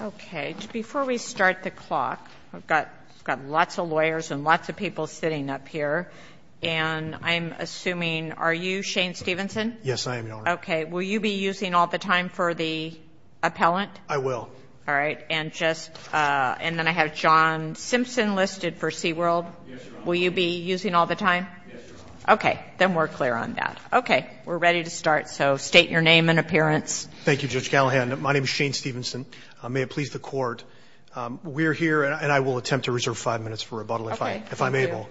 Okay, before we start the clock, I've got lots of lawyers and lots of people sitting up here, and I'm assuming, are you Shane Stevenson? Yes, I am, Your Honor. Okay, will you be using all the time for the appellant? I will. All right, and then I have John Simpson listed for Seaworld. Yes, Your Honor. Will you be using all the time? Yes, Your Honor. Okay, then we're clear on that. Okay, we're ready to start, so state your name and appearance. Thank you, Judge Callahan. My name is Shane Stevenson. May it please the Court, we're here, and I will attempt to reserve five minutes for rebuttal if I'm able. Okay, we're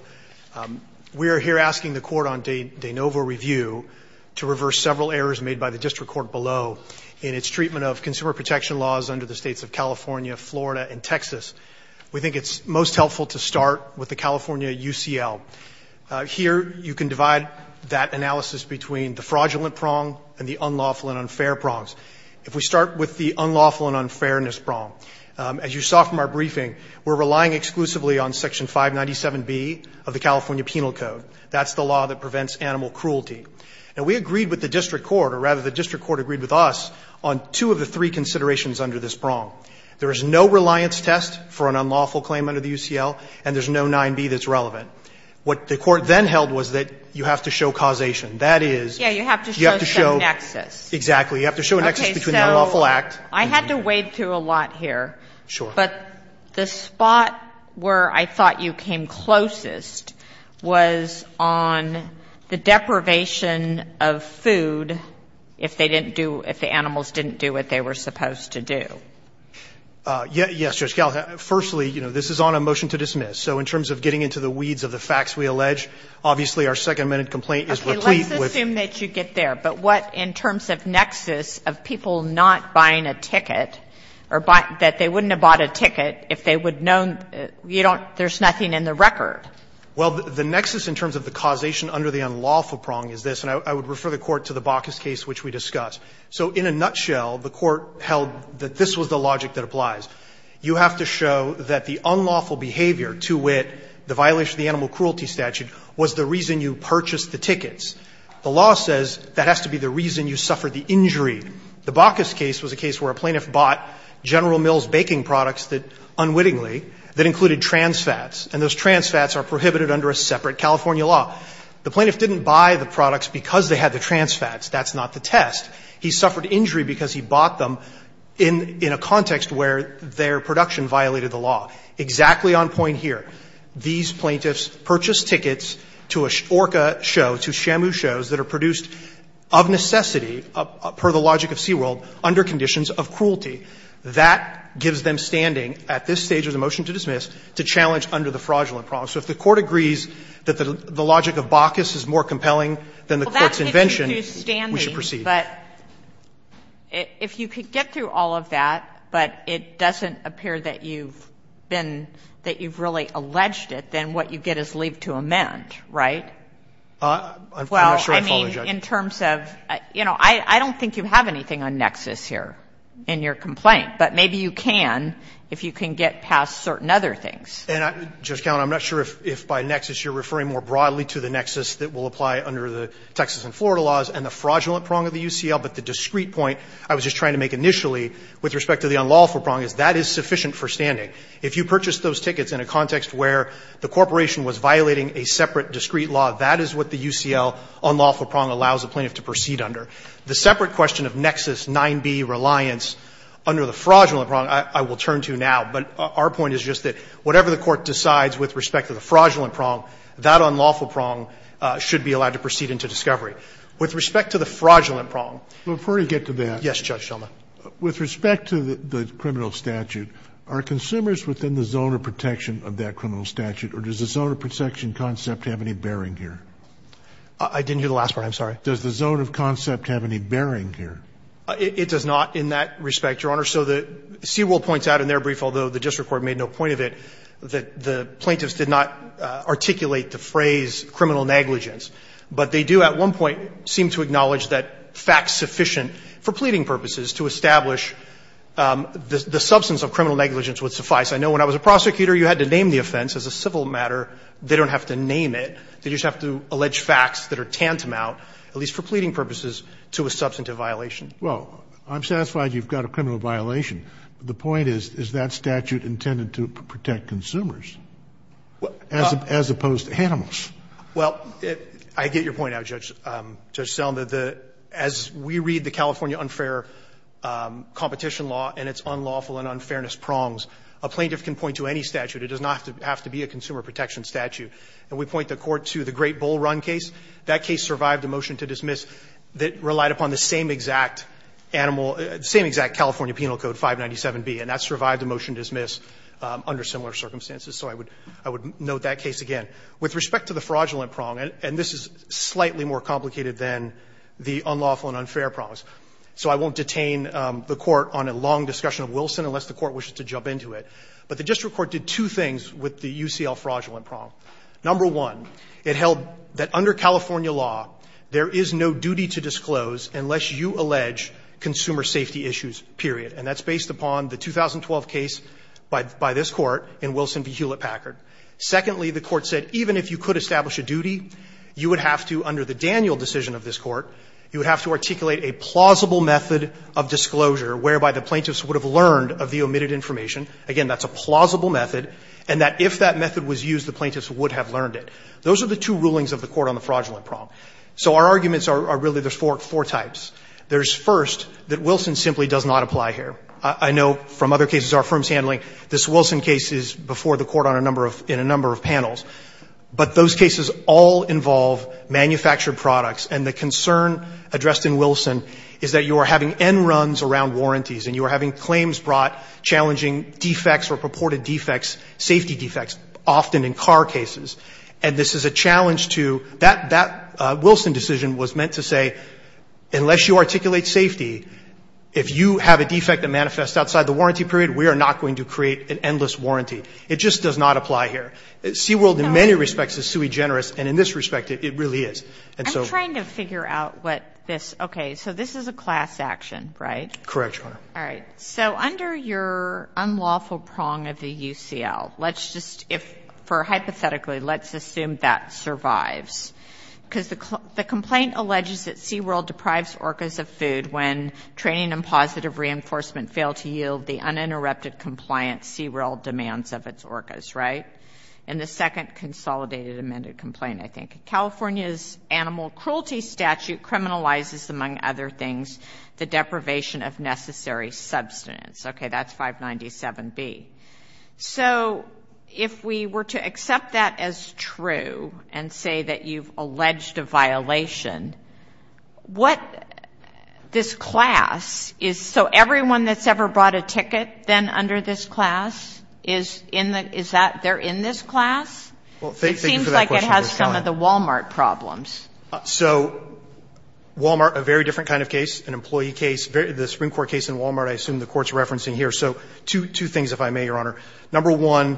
clear. We are here asking the Court on de novo review to reverse several errors made by the District Court below in its treatment of consumer protection laws under the states of California, Florida, and Texas. We think it's most helpful to start with the California UCL. Here, you can divide that analysis between the fraudulent prong and the unlawful and unfair prongs. If we start with the unlawful and unfairness prong, as you saw from our briefing, we're relying exclusively on Section 597B of the California Penal Code. That's the law that prevents animal cruelty. Now, we agreed with the District Court, or rather the District Court agreed with us, on two of the three considerations under this prong. There is no reliance test for an unlawful claim under the UCL, and there's no 9B that's relevant. What the Court then held was that you have to show causation. That is, you have to show the nexus. Exactly. You have to show a nexus between the unlawful act. Okay, so I had to wade through a lot here. Sure. But the spot where I thought you came closest was on the deprivation of food if they didn't do — if the animals didn't do what they were supposed to do. Yes, Judge Gallagher. Firstly, you know, this is on a motion to dismiss. So in terms of getting into the weeds of the facts we allege, obviously our second-minute complaint is complete with — Okay. Let's assume that you get there. But what in terms of nexus of people not buying a ticket or buying — that they wouldn't have bought a ticket if they would have known you don't — there's nothing in the record? Well, the nexus in terms of the causation under the unlawful prong is this, and I would refer the Court to the Baucus case which we discussed. So in a nutshell, the Court held that this was the logic that applies. You have to show that the unlawful behavior to wit the violation of the animal cruelty statute was the reason you purchased the tickets. The law says that has to be the reason you suffered the injury. The Baucus case was a case where a plaintiff bought General Mills baking products that unwittingly that included trans fats, and those trans fats are prohibited under a separate California law. The plaintiff didn't buy the products because they had the trans fats. That's not the test. He suffered injury because he bought them in a context where their production violated the law. Exactly on point here. These plaintiffs purchased tickets to an orca show, to Shamu shows that are produced of necessity, per the logic of Seaworld, under conditions of cruelty. That gives them standing at this stage of the motion to dismiss to challenge under the fraudulent prong. So if the Court agrees that the logic of Baucus is more compelling than the Court's invention, we should proceed. But if you could get through all of that, but it doesn't appear that you've been that you've really alleged it, then what you get is leave to amend, right? Well, I mean, in terms of, you know, I don't think you have anything on nexus here in your complaint, but maybe you can if you can get past certain other things. And I'm not sure if by nexus you're referring more broadly to the nexus that will allow the plaintiff to proceed under the fraudulent prong of the UCL, but the discrete point I was just trying to make initially with respect to the unlawful prong is that is sufficient for standing. If you purchased those tickets in a context where the corporation was violating a separate discrete law, that is what the UCL unlawful prong allows the plaintiff to proceed under. The separate question of nexus 9b reliance under the fraudulent prong I will turn to now, but our point is just that whatever the Court decides with respect to the fraudulent prong. Let me get to that. Yes, Judge Shulman. With respect to the criminal statute, are consumers within the zone of protection of that criminal statute, or does the zone of protection concept have any bearing here? I didn't hear the last part. I'm sorry. Does the zone of concept have any bearing here? It does not in that respect, Your Honor. So the CWIL points out in their brief, although the district court made no point of it, that the plaintiffs did not articulate the phrase criminal negligence, but they do at one point seem to acknowledge that facts sufficient for pleading purposes to establish the substance of criminal negligence would suffice. I know when I was a prosecutor, you had to name the offense. As a civil matter, they don't have to name it. They just have to allege facts that are tantamount, at least for pleading purposes, to a substantive violation. Well, I'm satisfied you've got a criminal violation. The point is, is that statute intended to protect consumers as opposed to animals? Well, I get your point now, Judge Selden. As we read the California unfair competition law and its unlawful and unfairness prongs, a plaintiff can point to any statute. It does not have to be a consumer protection statute. And we point the Court to the Great Bull Run case. That case survived a motion to dismiss that relied upon the same exact animal, the same exact California Penal Code, 597B, and that survived a motion to dismiss under similar circumstances. So I would note that case again. With respect to the fraudulent prong, and this is slightly more complicated than the unlawful and unfair prongs, so I won't detain the Court on a long discussion of Wilson unless the Court wishes to jump into it. But the district court did two things with the UCL fraudulent prong. Number one, it held that under California law, there is no duty to disclose unless you allege consumer safety issues, period. And that's based upon the 2012 case by this Court in Wilson v. Hewlett-Packard. Secondly, the Court said even if you could establish a duty, you would have to, under the Daniel decision of this Court, you would have to articulate a plausible method of disclosure whereby the plaintiffs would have learned of the omitted information. Again, that's a plausible method. And that if that method was used, the plaintiffs would have learned it. Those are the two rulings of the Court on the fraudulent prong. So our arguments are really there's four types. There's first, that Wilson simply does not apply here. I know from other cases our firm is handling, this Wilson case is before the Court in a number of panels. But those cases all involve manufactured products. And the concern addressed in Wilson is that you are having end runs around warranties and you are having claims brought challenging defects or purported defects, safety defects, often in car cases. And this is a challenge to that Wilson decision was meant to say unless you articulate safety, if you have a defect that manifests outside the warranty period, we are not going to create an endless warranty. It just does not apply here. SeaWorld in many respects is sui generis, and in this respect it really is. And so ---- I'm trying to figure out what this ---- okay. So this is a class action, right? Correct, Your Honor. All right. So under your unlawful prong of the UCL, let's just if for hypothetically let's assume that survives. Because the complaint alleges that SeaWorld deprives orcas of food when training and positive reinforcement fail to yield the uninterrupted compliance SeaWorld demands of its orcas, right? And the second consolidated amended complaint, I think. California's animal cruelty statute criminalizes, among other things, the deprivation of necessary substance. Okay, that's 597B. So if we were to accept that as true and say that you've alleged a violation, what this class is ---- so everyone that's ever brought a ticket, then under this class, is in the ---- is that they're in this class? Well, thank you for that question. It seems like it has some of the Wal-Mart problems. So Wal-Mart, a very different kind of case, an employee case, the Supreme Court case in Wal-Mart I assume the Court's referencing here. So two things, if I may, Your Honor. Number one,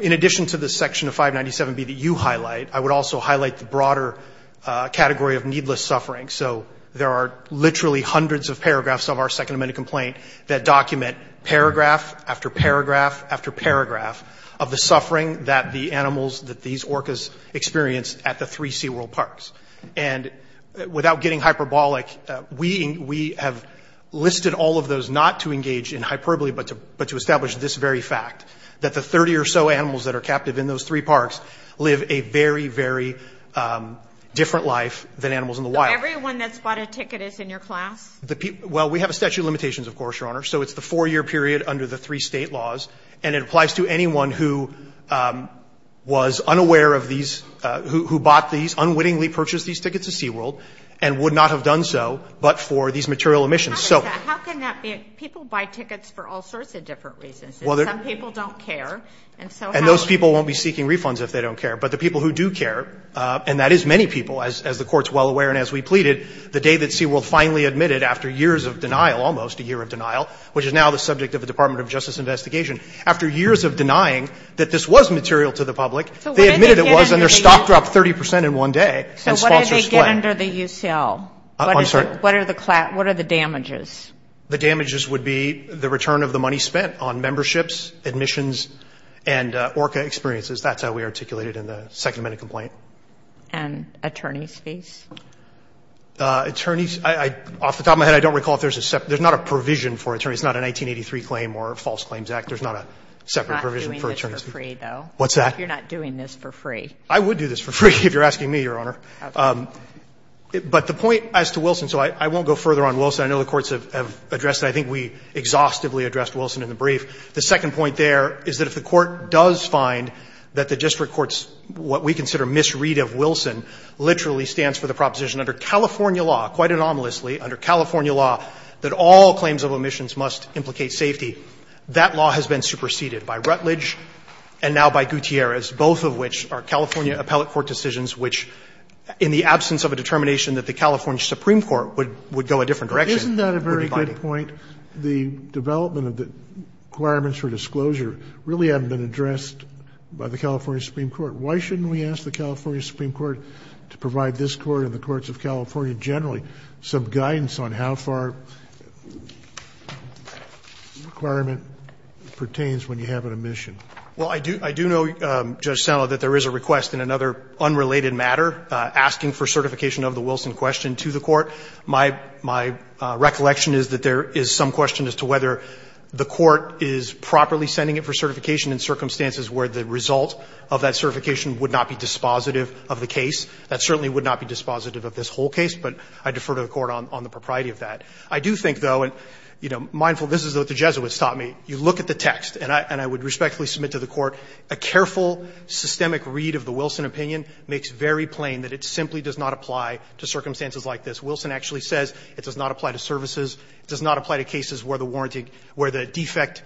in addition to the section of 597B that you highlight, I would also highlight the broader category of needless suffering. So there are literally hundreds of paragraphs of our second amended complaint that document paragraph after paragraph after paragraph of the suffering that the animals, that these orcas experience at the three SeaWorld parks. And without getting hyperbolic, we have listed all of those not to engage in hyperbole but to establish this very fact, that the 30 or so animals that are captive in those three parks live a very, very different life than animals in the wild. So everyone that's bought a ticket is in your class? Well, we have a statute of limitations, of course, Your Honor. So it's the four-year period under the three State laws. And it applies to anyone who was unaware of these, who bought these, unwittingly purchased these tickets at SeaWorld, and would not have done so but for these material emissions. How can that be? People buy tickets for all sorts of different reasons. Some people don't care. And those people won't be seeking refunds if they don't care. But the people who do care, and that is many people, as the Court's well aware and as we pleaded, the day that SeaWorld finally admitted after years of denial, almost a year of denial, which is now the subject of the Department of Justice investigation, after years of denying that this was material to the public, they admitted it was and their stock dropped 30 percent in one day. So what do they get under the UCL? I'm sorry? What are the damages? The damages would be the return of the money spent on memberships, admissions, and ORCA experiences. That's how we articulated it in the Second Amendment complaint. And attorney's fees? Attorneys? Off the top of my head, I don't recall if there's a separate. There's not a provision for attorneys. It's not a 1983 claim or False Claims Act. There's not a separate provision for attorneys. You're not doing this for free, though. What's that? You're not doing this for free. I would do this for free if you're asking me, Your Honor. But the point as to Wilson, so I won't go further on Wilson. I know the courts have addressed it. I think we exhaustively addressed Wilson in the brief. The second point there is that if the court does find that the district court's what we consider misread of Wilson literally stands for the proposition under California law, quite anomalously, under California law, that all claims of admissions must implicate safety, that law has been superseded by Rutledge and now by Gutierrez, both of which are California appellate court decisions which, in the absence of a And isn't that a very good point? The development of the requirements for disclosure really haven't been addressed by the California Supreme Court. Why shouldn't we ask the California Supreme Court to provide this Court and the courts of California generally some guidance on how far the requirement pertains when you have an admission? Well, I do know, Judge Sano, that there is a request in another unrelated matter asking for certification of the Wilson question to the Court. My recollection is that there is some question as to whether the Court is properly sending it for certification in circumstances where the result of that certification would not be dispositive of the case. That certainly would not be dispositive of this whole case, but I defer to the Court on the propriety of that. I do think, though, and, you know, mindful, this is what the Jesuits taught me. You look at the text, and I would respectfully submit to the Court a careful, systemic read of the Wilson opinion makes very plain that it simply does not apply to circumstances like this. Wilson actually says it does not apply to services. It does not apply to cases where the warranty, where the defect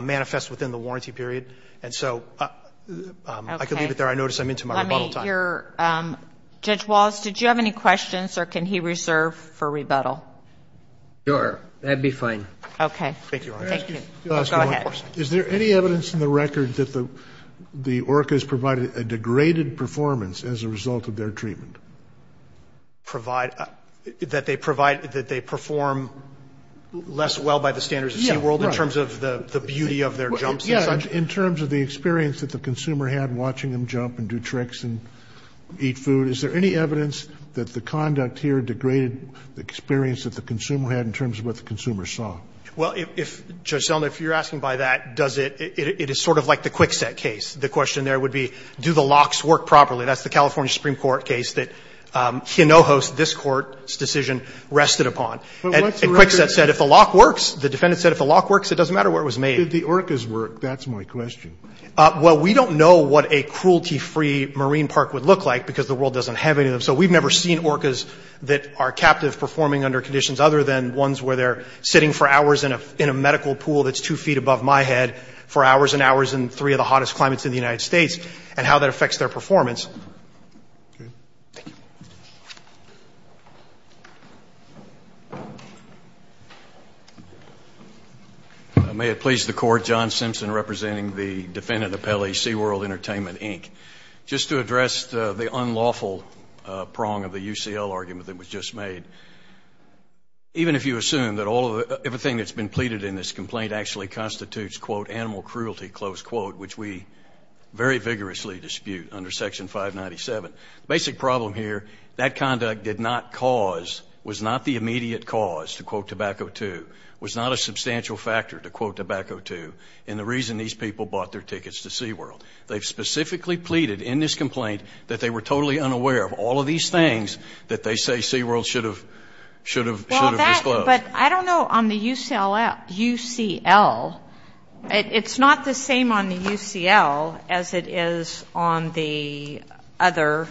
manifests within the warranty period. And so I could leave it there. I notice I'm into my rebuttal time. Let me hear Judge Wallace. Did you have any questions, or can he reserve for rebuttal? Sure. That would be fine. Okay. Thank you, Your Honor. Can I ask you one question? Go ahead. Is there any evidence in the record that the ORCA has provided a degraded performance as a result of their treatment? Provide? That they provide, that they perform less well by the standards of SeaWorld in terms of the beauty of their jumps and such? Yeah. In terms of the experience that the consumer had watching them jump and do tricks and eat food, is there any evidence that the conduct here degraded the experience that the consumer had in terms of what the consumer saw? Well, if, Judge Selma, if you're asking by that, does it, it is sort of like the Kwikset case. The question there would be, do the locks work properly? That's the California Supreme Court case that Hinojos, this Court's decision, rested upon. But what's the record? And Kwikset said if the lock works, the defendant said if the lock works, it doesn't matter where it was made. Did the ORCAs work? That's my question. Well, we don't know what a cruelty-free marine park would look like because the world doesn't have any of them. So we've never seen ORCAs that are captive performing under conditions other than ones where they're sitting for hours in a medical pool that's two feet above my head for hours and hours in three of the hottest climates in the United States and how that affects their performance. Okay. Thank you. May it please the Court, John Simpson representing the defendant appellee, SeaWorld Entertainment, Inc. Just to address the unlawful prong of the UCL argument that was just made, even if you assume that all of the, everything that's been pleaded in this complaint actually under Section 597. The basic problem here, that conduct did not cause, was not the immediate cause, to quote Tobacco II, was not a substantial factor, to quote Tobacco II, in the reason these people bought their tickets to SeaWorld. They've specifically pleaded in this complaint that they were totally unaware of all of these things that they say SeaWorld should have disclosed. But I don't know on the UCL, it's not the same on the UCL as it is on the other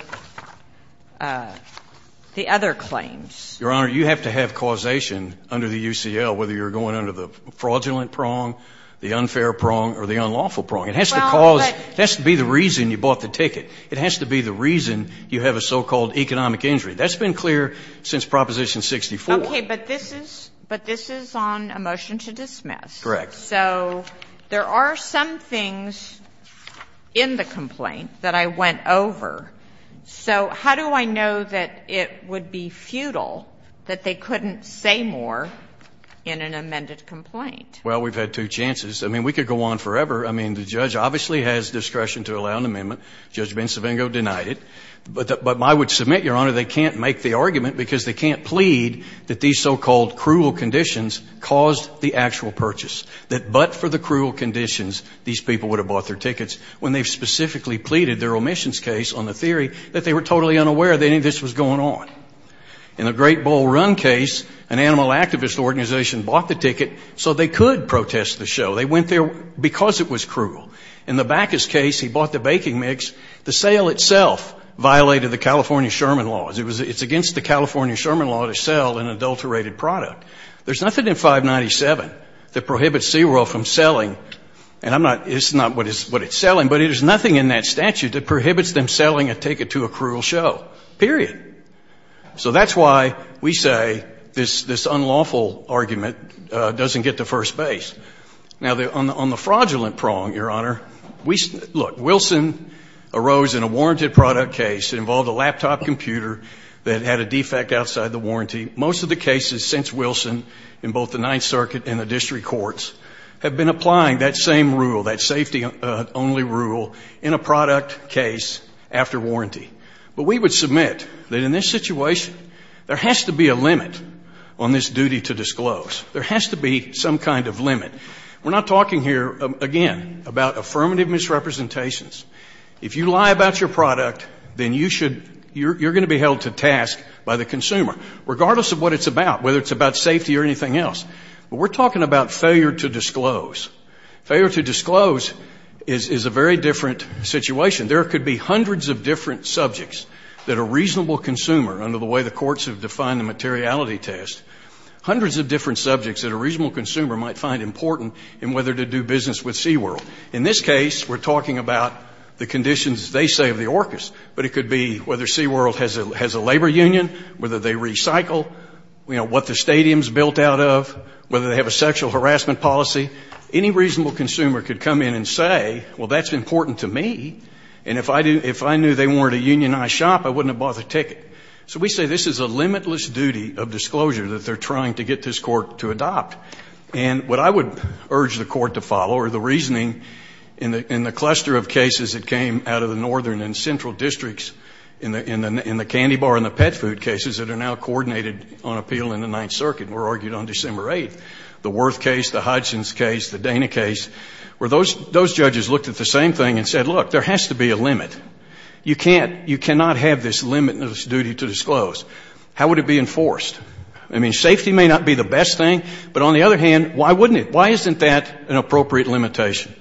claims. Your Honor, you have to have causation under the UCL, whether you're going under the fraudulent prong, the unfair prong, or the unlawful prong. It has to cause, it has to be the reason you bought the ticket. It has to be the reason you have a so-called economic injury. That's been clear since Proposition 64. Okay, but this is, but this is on a motion to dismiss. Correct. So there are some things in the complaint that I went over. So how do I know that it would be futile that they couldn't say more in an amended complaint? Well, we've had two chances. I mean, we could go on forever. I mean, the judge obviously has discretion to allow an amendment. Judge Bencivengo denied it. But I would submit, Your Honor, they can't make the argument because they can't plead that these so-called cruel conditions caused the actual purchase, that but for the cruel conditions, these people would have bought their tickets when they've specifically pleaded their omissions case on the theory that they were totally unaware that any of this was going on. In the Great Bowl Run case, an animal activist organization bought the ticket so they could protest the show. They went there because it was cruel. In the Backus case, he bought the baking mix. The sale itself violated the California Sherman laws. It's against the California Sherman law to sell an adulterated product. There's nothing in 597 that prohibits SeaWorld from selling, and I'm not, it's not what it's selling, but there's nothing in that statute that prohibits them selling a ticket to a cruel show, period. So that's why we say this unlawful argument doesn't get to first base. Now, on the fraudulent prong, Your Honor, we, look, Wilson arose in a warranted product case. It involved a laptop computer that had a defect outside the warranty. Most of the cases since Wilson in both the Ninth Circuit and the district courts have been applying that same rule, that safety-only rule, in a product case after warranty. But we would submit that in this situation, there has to be a limit on this duty to disclose. There has to be some kind of limit. We're not talking here, again, about affirmative misrepresentations. If you lie about your product, then you should, you're going to be held to task by the consumer, regardless of what it's about, whether it's about safety or anything else. But we're talking about failure to disclose. Failure to disclose is a very different situation. There could be hundreds of different subjects that a reasonable consumer, under the way the courts have defined the materiality test, hundreds of different subjects that a reasonable consumer might find important in whether to do business with SeaWorld. In this case, we're talking about the conditions, they say, of the orcas. But it could be whether SeaWorld has a labor union, whether they recycle, you know, what the stadium's built out of, whether they have a sexual harassment policy. Any reasonable consumer could come in and say, well, that's important to me. And if I knew they wanted a unionized shop, I wouldn't have bought the ticket. So we say this is a limitless duty of disclosure that they're trying to get this court to adopt. And what I would urge the court to follow, or the reasoning in the cluster of cases that came out of the northern and central districts in the candy bar and the pet food cases that are now coordinated on appeal in the Ninth Circuit, were argued on December 8th. The Worth case, the Hodgson's case, the Dana case, where those judges looked at the same thing and said, look, there has to be a limit. You can't, you cannot have this limitless duty to disclose. How would it be enforced? I mean, safety may not be the best thing, but on the other hand, why wouldn't it? Why isn't that an appropriate limitation?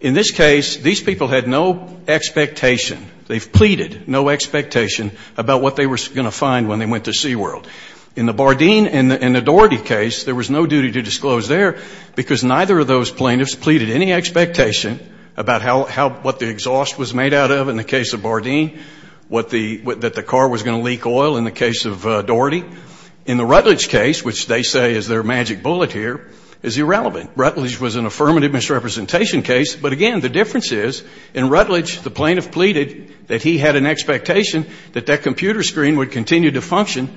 In this case, these people had no expectation. They've pleaded no expectation about what they were going to find when they went to SeaWorld. In the Bardeen and the Doherty case, there was no duty to disclose there because neither of those plaintiffs pleaded any expectation about how, what the exhaust was made out of in the case of Bardeen, what the, that the car was going to leak oil in the case of Doherty. In the Rutledge case, which they say is their magic bullet here, is irrelevant. Rutledge was an affirmative misrepresentation case, but again, the difference is, in Rutledge, the plaintiff pleaded that he had an expectation that that computer screen would continue to function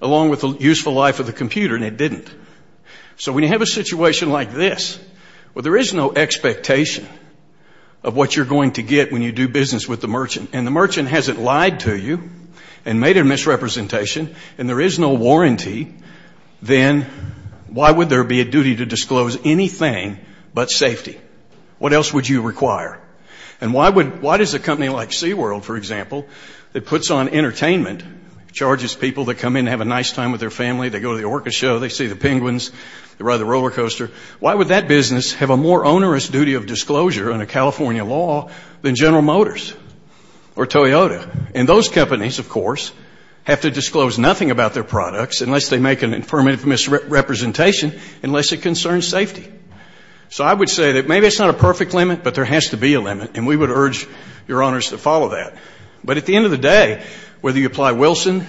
along with the useful life of the computer, and it didn't. So when you have a situation like this, well, there is no expectation of what you're going to get when you do business with the merchant, and the merchant hasn't lied to you and made a misrepresentation, and there is no warranty, then why would there be a duty to disclose anything but safety? What else would you require? And why would, why does a company like SeaWorld, for example, that puts on entertainment, charges people to come in and have a nice time with their family, they go to the orca show, they see the penguins, they ride the roller coaster, why would that business have a more onerous duty of disclosure under California law than General Motors or Toyota? And those companies, of course, have to disclose nothing about their products unless they make an affirmative misrepresentation, unless it concerns safety. So I would say that maybe it's not a perfect limit, but there has to be a limit, and we would urge Your Honors to follow that. But at the end of the day, whether you apply Wilson,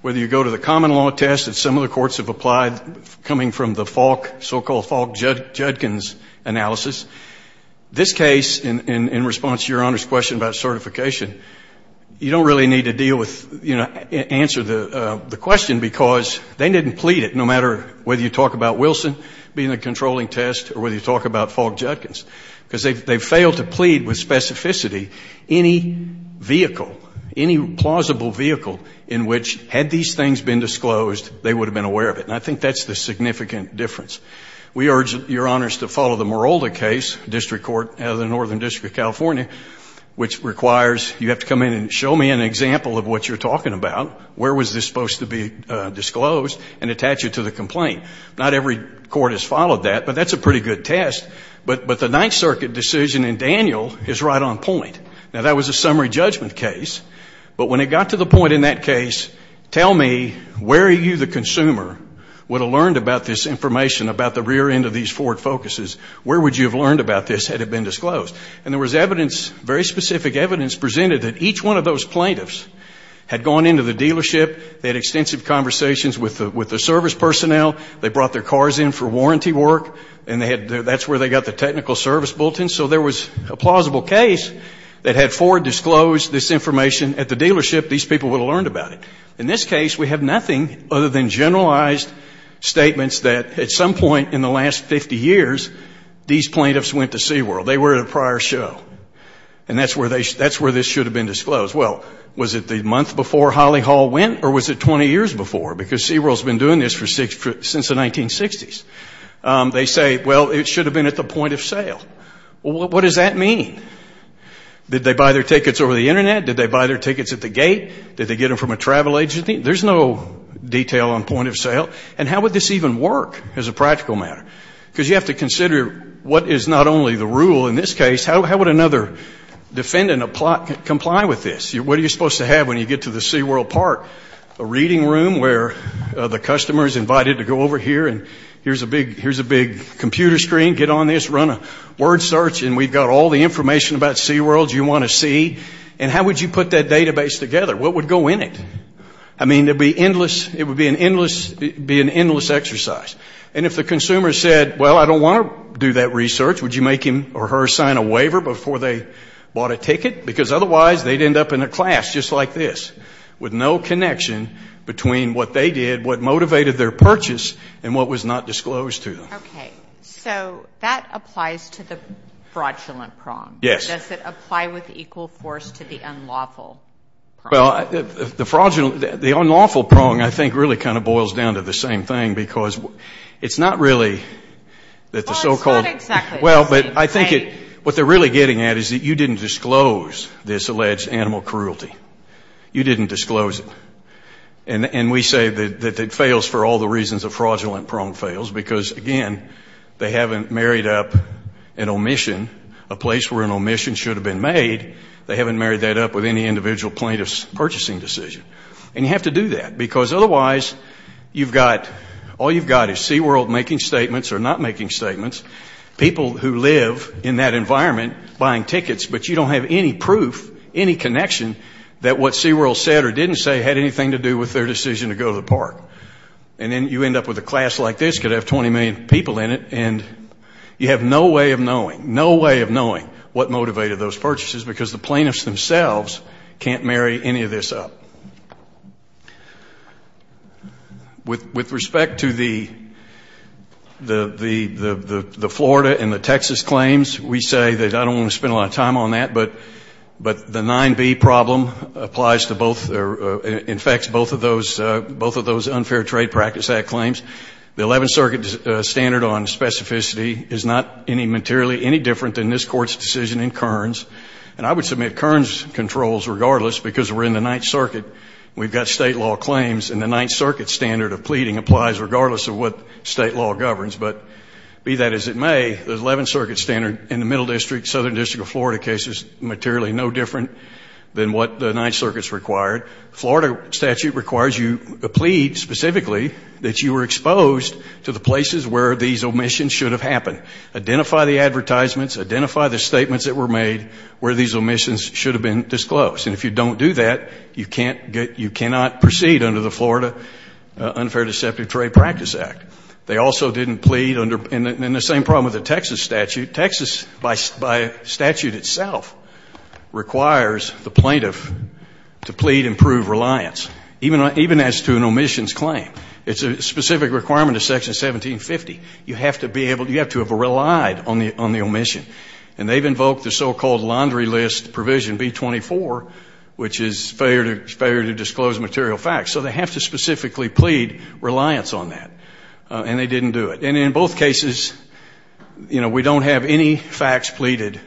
whether you go to the common law test that some of the courts have applied coming from the Falk, so-called Falk-Judkins analysis, this case, in response to Your Honors' question about certification, you don't really need to deal with, you know, answer the question, because they didn't plead it, no matter whether you talk about Wilson being a controlling test or whether you talk about Falk-Judkins, because they failed to plead with specificity any vehicle, any plausible vehicle in which, had these things been disclosed, they would have been aware of it. And I think that's the significant difference. We urge Your Honors to follow the Morolda case, District Court of the Northern District of California, which requires you have to come in and show me an example of what you're talking about, where was this supposed to be disclosed, and attach it to the complaint. Not every court has followed that, but that's a pretty good test. But the Ninth Circuit decision in Daniel is right on point. Now, that was a summary judgment case. But when it got to the point in that case, tell me where you, the consumer, would have learned about this information about the rear end of these Ford Focuses, where would you have learned about this had it been disclosed? And there was evidence, very specific evidence, presented that each one of those plaintiffs had gone into the dealership, they had extensive conversations with the service personnel, they brought their cars in for warranty work, and that's where they got the technical service bulletin. So there was a plausible case that had Ford disclose this information at the dealership, these people would have learned about it. In this case, we have nothing other than generalized statements that at some point in the last 50 years, these plaintiffs went to SeaWorld. They were at a prior show. And that's where this should have been disclosed. Well, was it the month before Holly Hall went, or was it 20 years before? Because SeaWorld has been doing this since the 1960s. They say, well, it should have been at the point of sale. Well, what does that mean? Did they buy their tickets over the Internet? Did they buy their tickets at the gate? Did they get them from a travel agency? There's no detail on point of sale. And how would this even work as a practical matter? Because you have to consider what is not only the rule in this case, how would another defendant comply with this? What are you supposed to have when you get to the SeaWorld park? A reading room where the customer is invited to go over here, and here's a big computer screen, get on this, run a word search, and we've got all the information about SeaWorld you want to see. And how would you put that database together? What would go in it? I mean, it would be an endless exercise. And if the consumer said, well, I don't want to do that research, would you make him or her sign a waiver before they bought a ticket? Because otherwise they'd end up in a class just like this, with no connection between what they did, what motivated their purchase, and what was not disclosed to them. Okay. So that applies to the fraudulent prong. Yes. Does it apply with equal force to the unlawful prong? Well, the unlawful prong I think really kind of boils down to the same thing because it's not really that the so-called – Well, it's not exactly the same, right? Well, but I think what they're really getting at is that you didn't disclose this alleged animal cruelty. You didn't disclose it. And we say that it fails for all the reasons a fraudulent prong fails because, again, they haven't married up an omission, a place where an omission should have been made. They haven't married that up with any individual plaintiff's purchasing decision. And you have to do that because otherwise you've got – all you've got is SeaWorld making statements or not making statements. People who live in that environment buying tickets, but you don't have any proof, any connection, that what SeaWorld said or didn't say had anything to do with their decision to go to the park. And then you end up with a class like this that could have 20 million people in it, and you have no way of knowing, no way of knowing what motivated those purchases because the plaintiffs themselves can't marry any of this up. With respect to the Florida and the Texas claims, we say that I don't want to spend a lot of time on that, but the 9B problem applies to both – infects both of those unfair trade practice act claims. The Eleventh Circuit standard on specificity is not any materially any different than this Court's decision in Kearns. And I would submit Kearns controls regardless because we're in the Ninth Circuit. We've got state law claims, and the Ninth Circuit standard of pleading applies regardless of what state law governs. But be that as it may, the Eleventh Circuit standard in the Middle District, Southern District of Florida case is materially no different than what the Ninth Circuit's required. Florida statute requires you to plead specifically that you were exposed to the places where these omissions should have happened. Identify the advertisements. Identify the statements that were made where these omissions should have been disclosed. And if you don't do that, you cannot proceed under the Florida Unfair Deceptive Trade Practice Act. They also didn't plead under – and the same problem with the Texas statute. Texas, by statute itself, requires the plaintiff to plead and prove reliance, even as to an omissions claim. It's a specific requirement of Section 1750. You have to be able – you have to have relied on the omission. And they've invoked the so-called laundry list provision B-24, which is failure to disclose material facts. So they have to specifically plead reliance on that. And they didn't do it. And in both cases, you know, we don't have any facts pleaded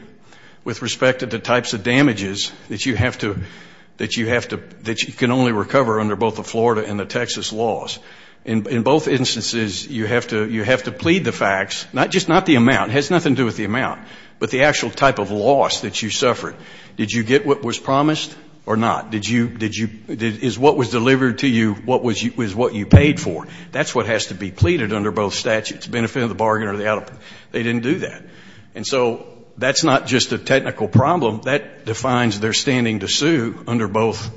with respect to the types of damages that you have to – that you can only recover under both the Florida and the Texas laws. In both instances, you have to plead the facts, just not the amount. It has nothing to do with the amount, but the actual type of loss that you suffered. Did you get what was promised or not? Did you – is what was delivered to you what you paid for? That's what has to be pleaded under both statutes, benefit of the bargain or the out of – they didn't do that. And so that's not just a technical problem. That defines their standing to sue under both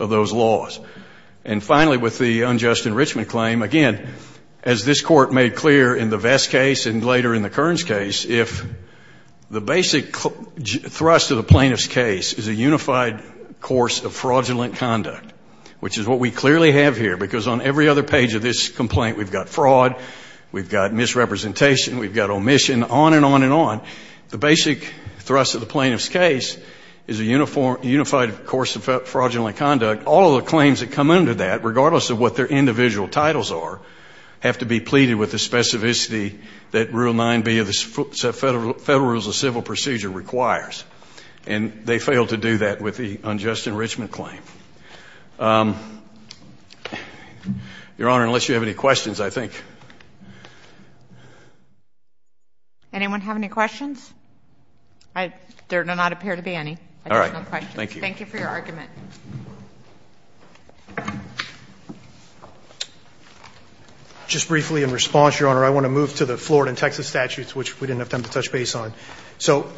of those laws. And finally, with the unjust enrichment claim, again, as this Court made clear in the Vest case and later in the Kearns case, if the basic thrust of the plaintiff's case is a unified course of fraudulent conduct, which is what we clearly have here, because on every other page of this complaint we've got fraud, we've got misrepresentation, we've got omission, on and on and on. The basic thrust of the plaintiff's case is a unified course of fraudulent conduct. All of the claims that come under that, regardless of what their individual titles are, have to be pleaded with the specificity that Rule 9b of the Federal Rules of Civil Procedure requires. And they failed to do that with the unjust enrichment claim. Your Honor, unless you have any questions, I think. Anyone have any questions? There do not appear to be any additional questions. Thank you. Thank you for your argument. Just briefly in response, Your Honor, I want to move to the Florida and Texas statutes, which we didn't have time to touch base on. So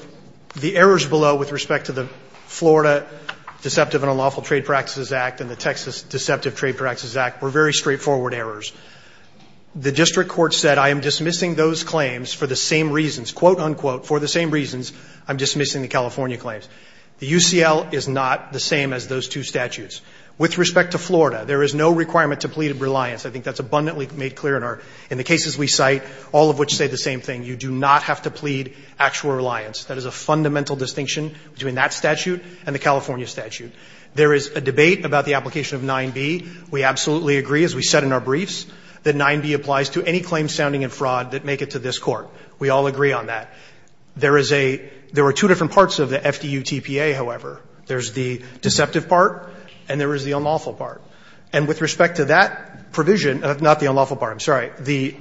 the errors below with respect to the Florida Deceptive and Unlawful Trade Practices Act and the Texas Deceptive Trade Practices Act were very straightforward errors. The district court said, I am dismissing those claims for the same reasons, quote, unquote, for the same reasons I'm dismissing the California claims. The UCL is not the same as those two statutes. With respect to Florida, there is no requirement to plead reliance. I think that's abundantly made clear in the cases we cite, all of which say the same thing. You do not have to plead actual reliance. That is a fundamental distinction between that statute and the California statute. There is a debate about the application of 9b. We absolutely agree, as we said in our briefs, that 9b applies to any claims sounding in fraud that make it to this Court. We all agree on that. There is a – there are two different parts of the FDU TPA, however. There's the deceptive part and there is the unlawful part. And with respect to that provision – not the unlawful part, I'm sorry, the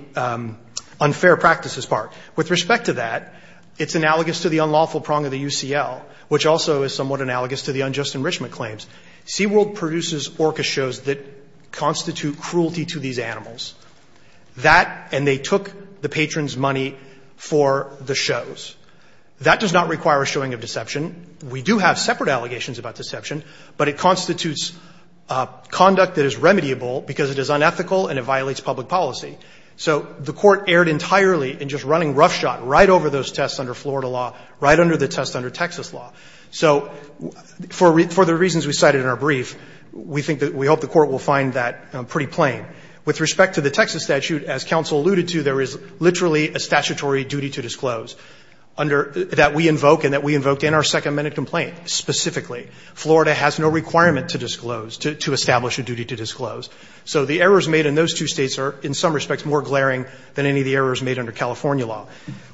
unfair practices part. With respect to that, it's analogous to the unlawful prong of the UCL, which also is somewhat analogous to the unjust enrichment claims. SeaWorld produces orca shows that constitute cruelty to these animals. That – and they took the patrons' money for the shows. That does not require a showing of deception. We do have separate allegations about deception, but it constitutes conduct that is remediable because it is unethical and it violates public policy. So the Court erred entirely in just running roughshod right over those tests under Florida law, right under the test under Texas law. So for the reasons we cited in our brief, we think that – we hope the Court will find that pretty plain. With respect to the Texas statute, as counsel alluded to, there is literally a statutory duty to disclose under – that we invoke and that we invoked in our second-minute complaint specifically. Florida has no requirement to disclose – to establish a duty to disclose. So the errors made in those two States are, in some respects, more glaring than any of the errors made under California law.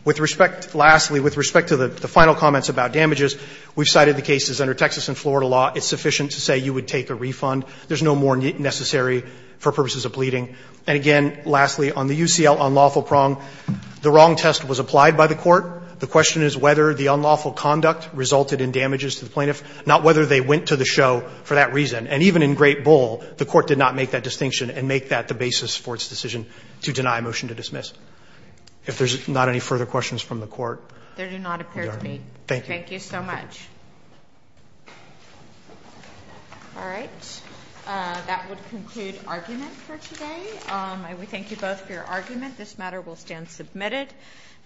With respect – lastly, with respect to the final comments about damages, we've cited the cases under Texas and Florida law. It's sufficient to say you would take a refund. There's no more necessary for purposes of pleading. And again, lastly, on the UCL unlawful prong, the wrong test was applied by the Court. The question is whether the unlawful conduct resulted in damages to the plaintiff, not whether they went to the show for that reason. And even in Great Bull, the Court did not make that distinction and make that the basis for its decision to deny a motion to dismiss. If there's not any further questions from the Court, we are done. Thank you. Thank you so much. All right. That would conclude argument for today. I would thank you both for your argument. This matter will stand submitted.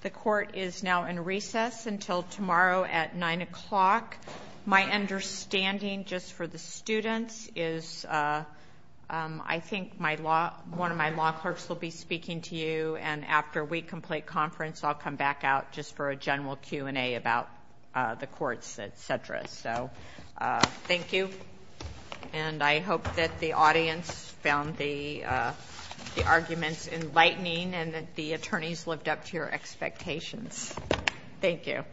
The Court is now in recess until tomorrow at 9 o'clock. My understanding, just for the students, is I think my law – one of my law clerks will be speaking to you, and after we complete conference, I'll come back out just for a general Q&A about the courts, et cetera. So thank you, and I hope that the audience found the arguments enlightening and that the attorneys lived up to your expectations. Thank you.